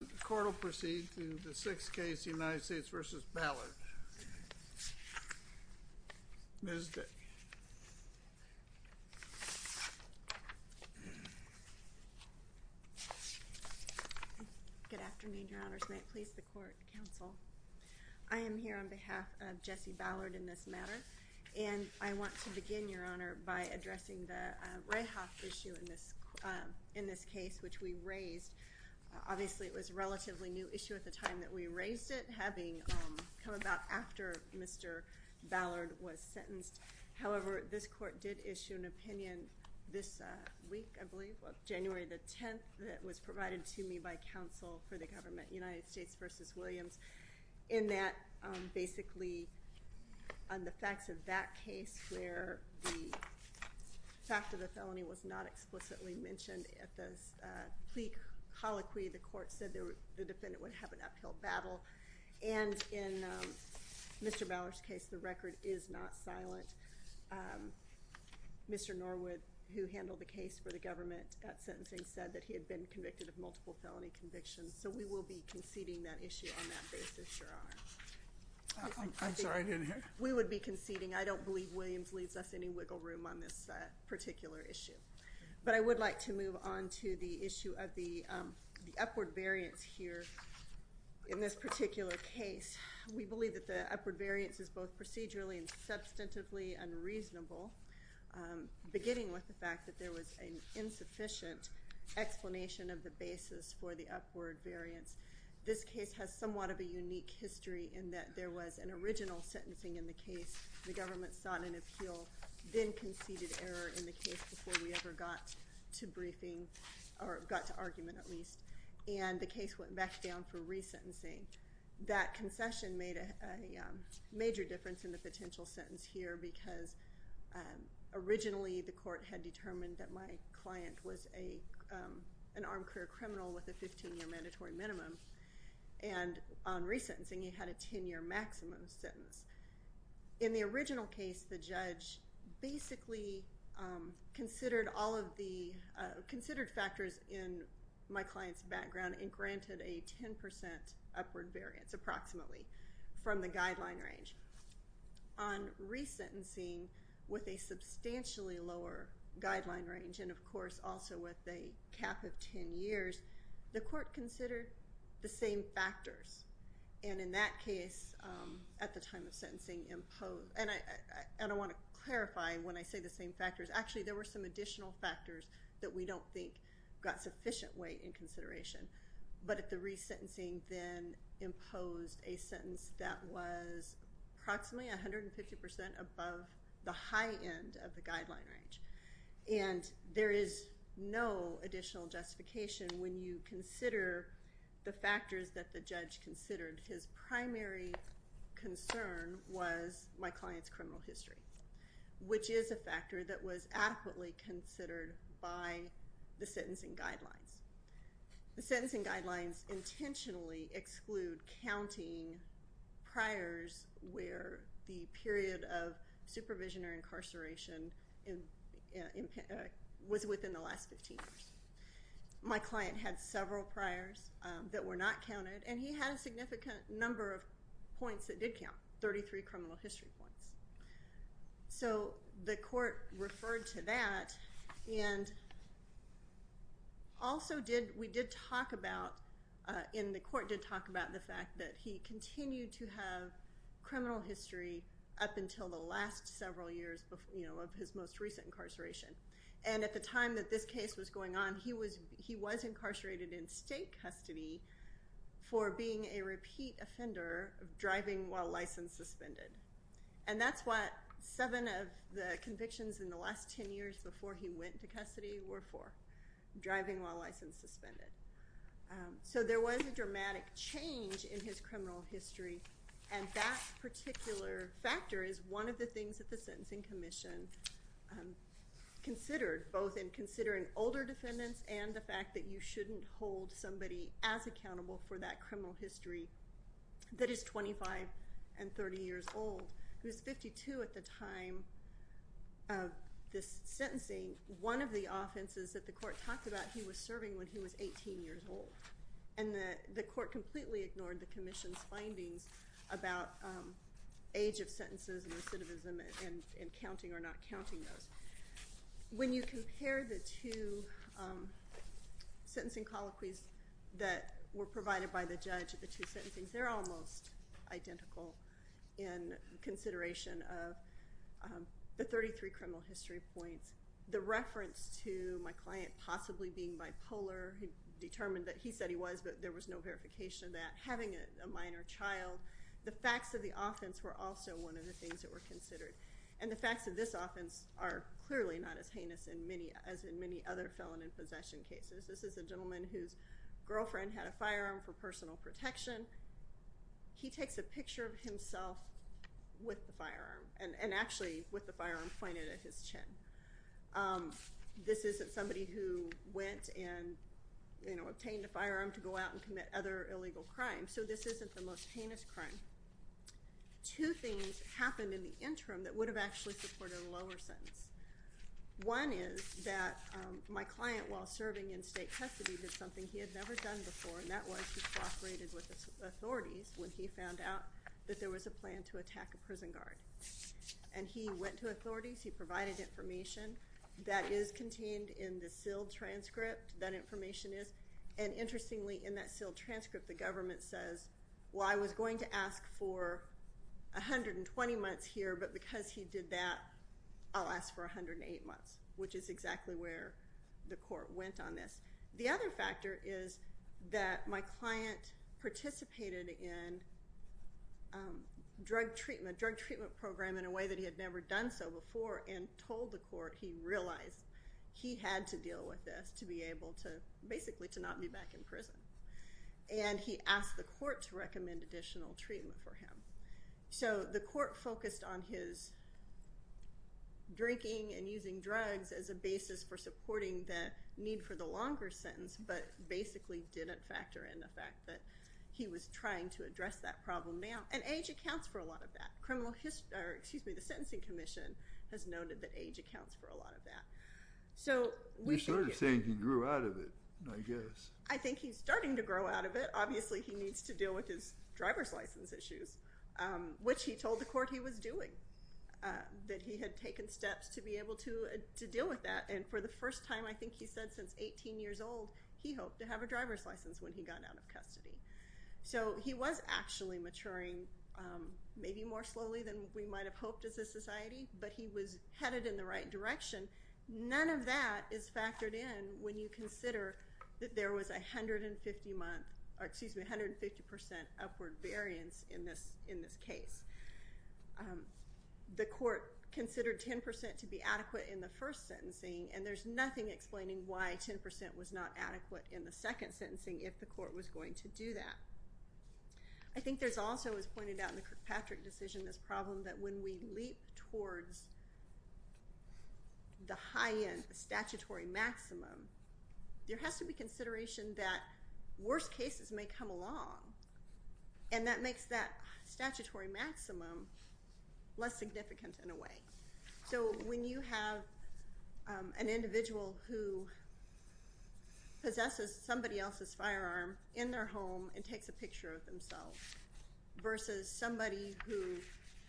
The court will proceed to the sixth case, United States v. Ballard. Ms. Dick. Good afternoon, Your Honors. May it please the Court, Counsel. I am here on behalf of Jesse Ballard in this matter, and I want to begin, Your Honor, by addressing the Rahoff issue in this case, which we raised. Obviously, it was a relatively new issue at the time that we raised it, having come about after Mr. Ballard was sentenced. However, this Court did issue an opinion this week, I believe, of January the 10th, that was provided to me by counsel for the government, United States v. Williams, in that basically on the facts of that case where the fact of the felony was not explicitly mentioned at the plea colloquy, the Court said the defendant would have an uphill battle. And in Mr. Ballard's case, the record is not silent. Mr. Norwood, who handled the case for the government at sentencing, said that he had been convicted of multiple felony convictions. So we will be conceding that issue on that basis, Your Honor. I'm sorry, I didn't hear. We would be conceding. I don't believe Williams leaves us any wiggle room on this particular issue. But I would like to move on to the issue of the upward variance here in this particular case. We believe that the upward variance is both procedurally and substantively unreasonable, beginning with the fact that there was an insufficient explanation of the basis for the upward variance. This case has somewhat of a unique history in that there was an original sentencing in the case. The government sought an appeal, then conceded error in the case before we ever got to briefing, or got to argument at least, and the case went back down for resentencing. That concession made a major difference in the potential sentence here because originally the Court had determined that my client was an armed career criminal with a 15-year mandatory minimum, and on resentencing he had a 10-year maximum sentence. In the original case, the judge basically considered all of the considered factors in my client's background and granted a 10% upward variance approximately from the guideline range. On resentencing, with a substantially lower guideline range and, of course, also with a cap of 10 years, the Court considered the same factors, and in that case at the time of sentencing imposed— and I want to clarify when I say the same factors. Actually, there were some additional factors that we don't think got sufficient weight in consideration, but the resentencing then imposed a sentence that was approximately 150% above the high end of the guideline range, and there is no additional justification when you consider the factors that the judge considered. His primary concern was my client's criminal history, which is a factor that was adequately considered by the sentencing guidelines. The sentencing guidelines intentionally exclude counting priors where the period of supervision or incarceration was within the last 15 years. My client had several priors that were not counted, and he had a significant number of points that did count, 33 criminal history points. So the Court referred to that, and also we did talk about— and the Court did talk about the fact that he continued to have criminal history up until the last several years of his most recent incarceration, and at the time that this case was going on, he was incarcerated in state custody for being a repeat offender of driving while license suspended, and that's what seven of the convictions in the last 10 years before he went to custody were for, driving while license suspended. So there was a dramatic change in his criminal history, and that particular factor is one of the things that the Sentencing Commission considered, both in considering older defendants and the fact that you shouldn't hold somebody as accountable for that criminal history that is 25 and 30 years old. He was 52 at the time of this sentencing. One of the offenses that the Court talked about, he was serving when he was 18 years old, and the Court completely ignored the Commission's findings about age of sentences and recidivism and counting or not counting those. When you compare the two sentencing colloquies that were provided by the judge at the two sentencings, they're almost identical in consideration of the 33 criminal history points. The reference to my client possibly being bipolar determined that he said he was, but there was no verification of that. Having a minor child, the facts of the offense were also one of the things that were considered, and the facts of this offense are clearly not as heinous as in many other felon in possession cases. This is a gentleman whose girlfriend had a firearm for personal protection. He takes a picture of himself with the firearm and actually with the firearm pointed at his chin. This isn't somebody who went and obtained a firearm to go out and commit other illegal crimes, so this isn't the most heinous crime. Two things happened in the interim that would have actually supported a lower sentence. One is that my client, while serving in state custody, did something he had never done before, and that was he cooperated with authorities when he found out that there was a plan to attack a prison guard. And he went to authorities, he provided information. That is contained in the sealed transcript, that information is. And interestingly, in that sealed transcript, the government says, well, I was going to ask for 120 months here, but because he did that, I'll ask for 108 months, which is exactly where the court went on this. The other factor is that my client participated in drug treatment, drug treatment program in a way that he had never done so before, and told the court he realized he had to deal with this to be able to basically to not be back in prison. And he asked the court to recommend additional treatment for him. So the court focused on his drinking and using drugs as a basis for supporting the need for the longer sentence, but basically didn't factor in the fact that he was trying to address that problem now. And AH accounts for a lot of that. The Sentencing Commission has noted that AH accounts for a lot of that. So we started saying he grew out of it, I guess. I think he's starting to grow out of it. Obviously, he needs to deal with his driver's license issues, which he told the court he was doing, that he had taken steps to be able to deal with that. And for the first time, I think he said since 18 years old, he hoped to have a driver's license when he got out of custody. So he was actually maturing maybe more slowly than we might have hoped as a society, but he was headed in the right direction. None of that is factored in when you consider that there was 150% upward variance in this case. The court considered 10% to be adequate in the first sentencing, and there's nothing explaining why 10% was not adequate in the second sentencing if the court was going to do that. I think there's also, as pointed out in the Kirkpatrick decision, this problem that when we leap towards the high end, the statutory maximum, there has to be consideration that worse cases may come along, and that makes that statutory maximum less significant in a way. So when you have an individual who possesses somebody else's firearm in their home and takes a picture of themselves versus somebody who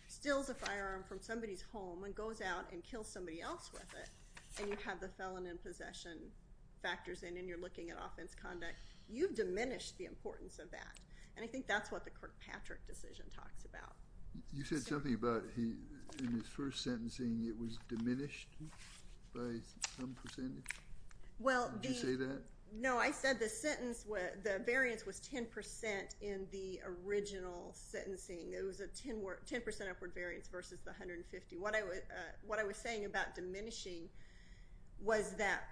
steals a firearm from somebody's home and goes out and kills somebody else with it, and you have the felon in possession factors in and you're looking at offense conduct, you've diminished the importance of that. And I think that's what the Kirkpatrick decision talks about. You said something about in his first sentencing it was diminished by some percentage. Would you say that? No, I said the sentence, the variance was 10% in the original sentencing. It was a 10% upward variance versus the 150. What I was saying about diminishing was that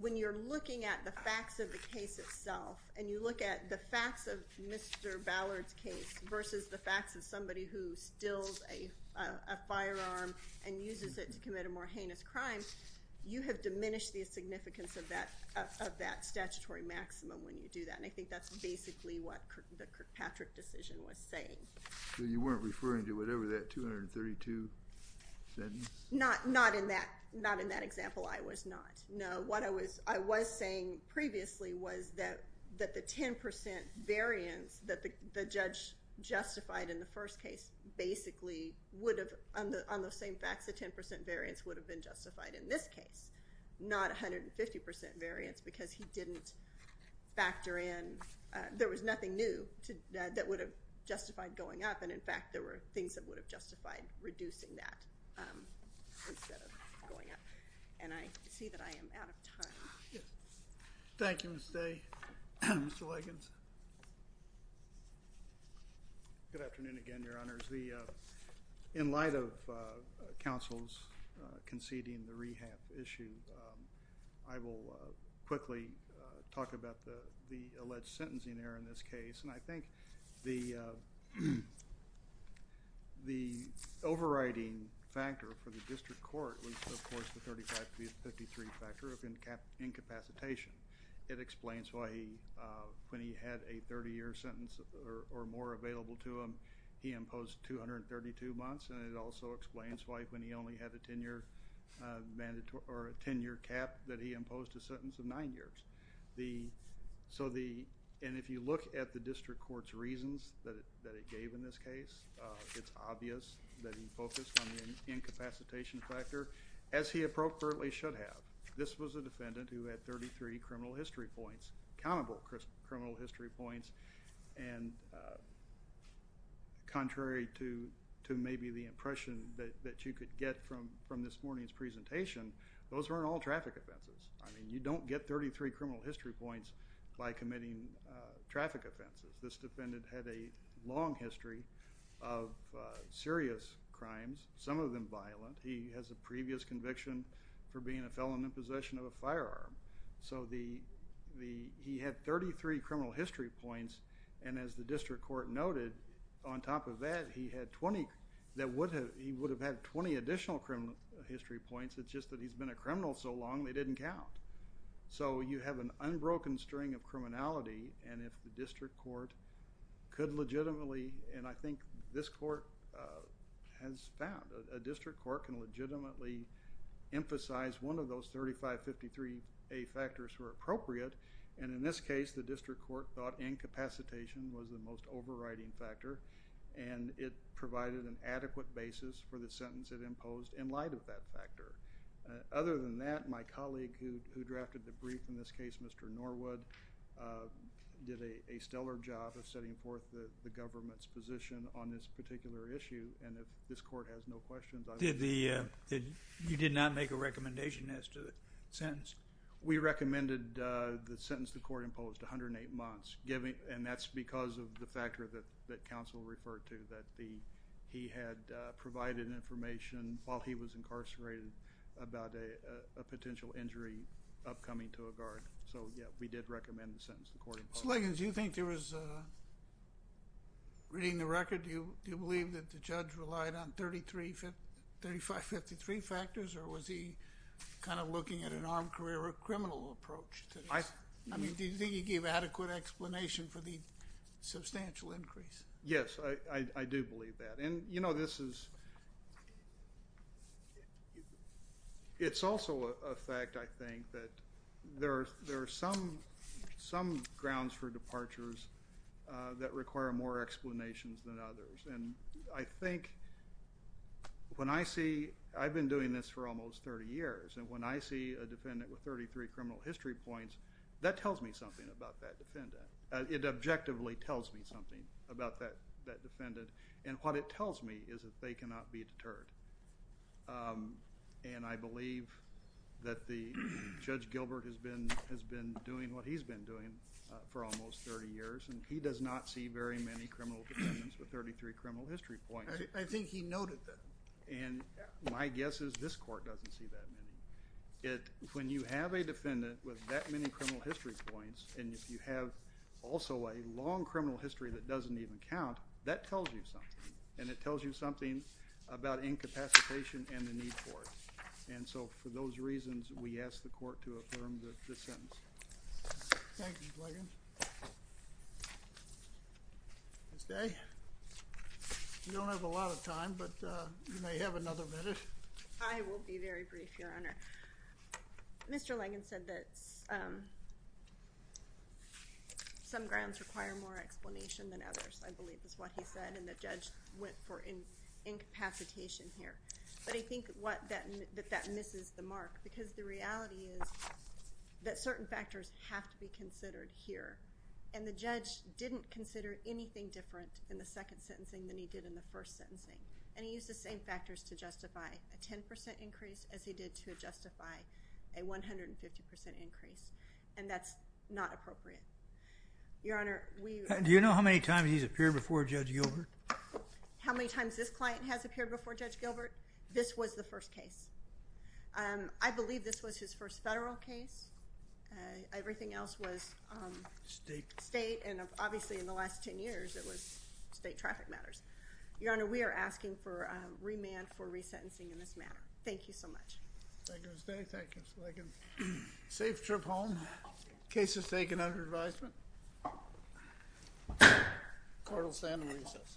when you're looking at the facts of the case itself and you look at the facts of Mr. Ballard's case versus the facts of somebody who steals a firearm and uses it to commit a more heinous crime, you have diminished the significance of that statutory maximum when you do that, and I think that's basically what the Kirkpatrick decision was saying. So you weren't referring to whatever that 232 sentence? Not in that example. I was not. That the 10% variance that the judge justified in the first case basically would have, on those same facts, the 10% variance would have been justified in this case, not 150% variance because he didn't factor in. There was nothing new that would have justified going up, and, in fact, there were things that would have justified reducing that instead of going up. And I see that I am out of time. Thank you, Mr. Day. Mr. Likens. Good afternoon again, Your Honors. In light of counsel's conceding the rehab issue, I will quickly talk about the alleged sentencing error in this case, and I think the overriding factor for the district court was, of course, the 3553 factor of incapacitation. It explains why when he had a 30-year sentence or more available to him, he imposed 232 months, and it also explains why when he only had a 10-year cap that he imposed a sentence of nine years. And if you look at the district court's reasons that it gave in this case, it's obvious that he focused on the incapacitation factor. As he appropriately should have. This was a defendant who had 33 criminal history points, countable criminal history points, and contrary to maybe the impression that you could get from this morning's presentation, those weren't all traffic offenses. I mean, you don't get 33 criminal history points by committing traffic offenses. This defendant had a long history of serious crimes, some of them violent. He has a previous conviction for being a felon in possession of a firearm. So he had 33 criminal history points, and as the district court noted, on top of that, he would have had 20 additional criminal history points. It's just that he's been a criminal so long they didn't count. So you have an unbroken string of criminality, and if the district court could legitimately, and I think this court has found, a district court can legitimately emphasize one of those 3553A factors were appropriate, and in this case, the district court thought incapacitation was the most overriding factor, and it provided an adequate basis for the sentence it imposed in light of that factor. Other than that, my colleague who drafted the brief in this case, Mr. Norwood, did a stellar job of setting forth the government's position on this particular issue, and if this court has no questions. You did not make a recommendation as to the sentence? We recommended the sentence the court imposed, 108 months, and that's because of the factor that counsel referred to, that he had provided information while he was incarcerated about a potential injury upcoming to a guard. So, yeah, we did recommend the sentence the court imposed. Mr. Liggins, do you think there was, reading the record, do you believe that the judge relied on 3553 factors, or was he kind of looking at an armed career or criminal approach? I mean, do you think he gave adequate explanation for the substantial increase? Yes, I do believe that. And, you know, this is, it's also a fact, I think, that there are some grounds for departures that require more explanations than others, and I think when I see, I've been doing this for almost 30 years, and when I see a defendant with 33 criminal history points, that tells me something about that defendant. It objectively tells me something about that defendant, and what it tells me is that they cannot be deterred. And I believe that Judge Gilbert has been doing what he's been doing for almost 30 years, and he does not see very many criminal defendants with 33 criminal history points. I think he noted that. And my guess is this court doesn't see that many. When you have a defendant with that many criminal history points, and if you have also a long criminal history that doesn't even count, that tells you something, and it tells you something about incapacitation and the need for it. And so for those reasons, we ask the court to affirm the sentence. Thank you, Lagan. Ms. Day, we don't have a lot of time, but you may have another minute. I will be very brief, Your Honor. Mr. Lagan said that some grounds require more explanation than others. I believe is what he said, and the judge went for incapacitation here. But I think that that misses the mark because the reality is that certain factors have to be considered here, and the judge didn't consider anything different in the second sentencing than he did in the first sentencing. And he used the same factors to justify a 10% increase as he did to justify a 150% increase, and that's not appropriate. Your Honor, we... Do you know how many times he's appeared before Judge Gilbert? How many times this client has appeared before Judge Gilbert? This was the first case. I believe this was his first federal case. Everything else was state, and obviously in the last 10 years, it was state traffic matters. Your Honor, we are asking for remand for resentencing in this matter. Thank you so much. Thank you, Ms. Day. Thank you, Ms. Lagan. Safe trip home. Case is taken under advisement. Court will stand in recess. Thank you.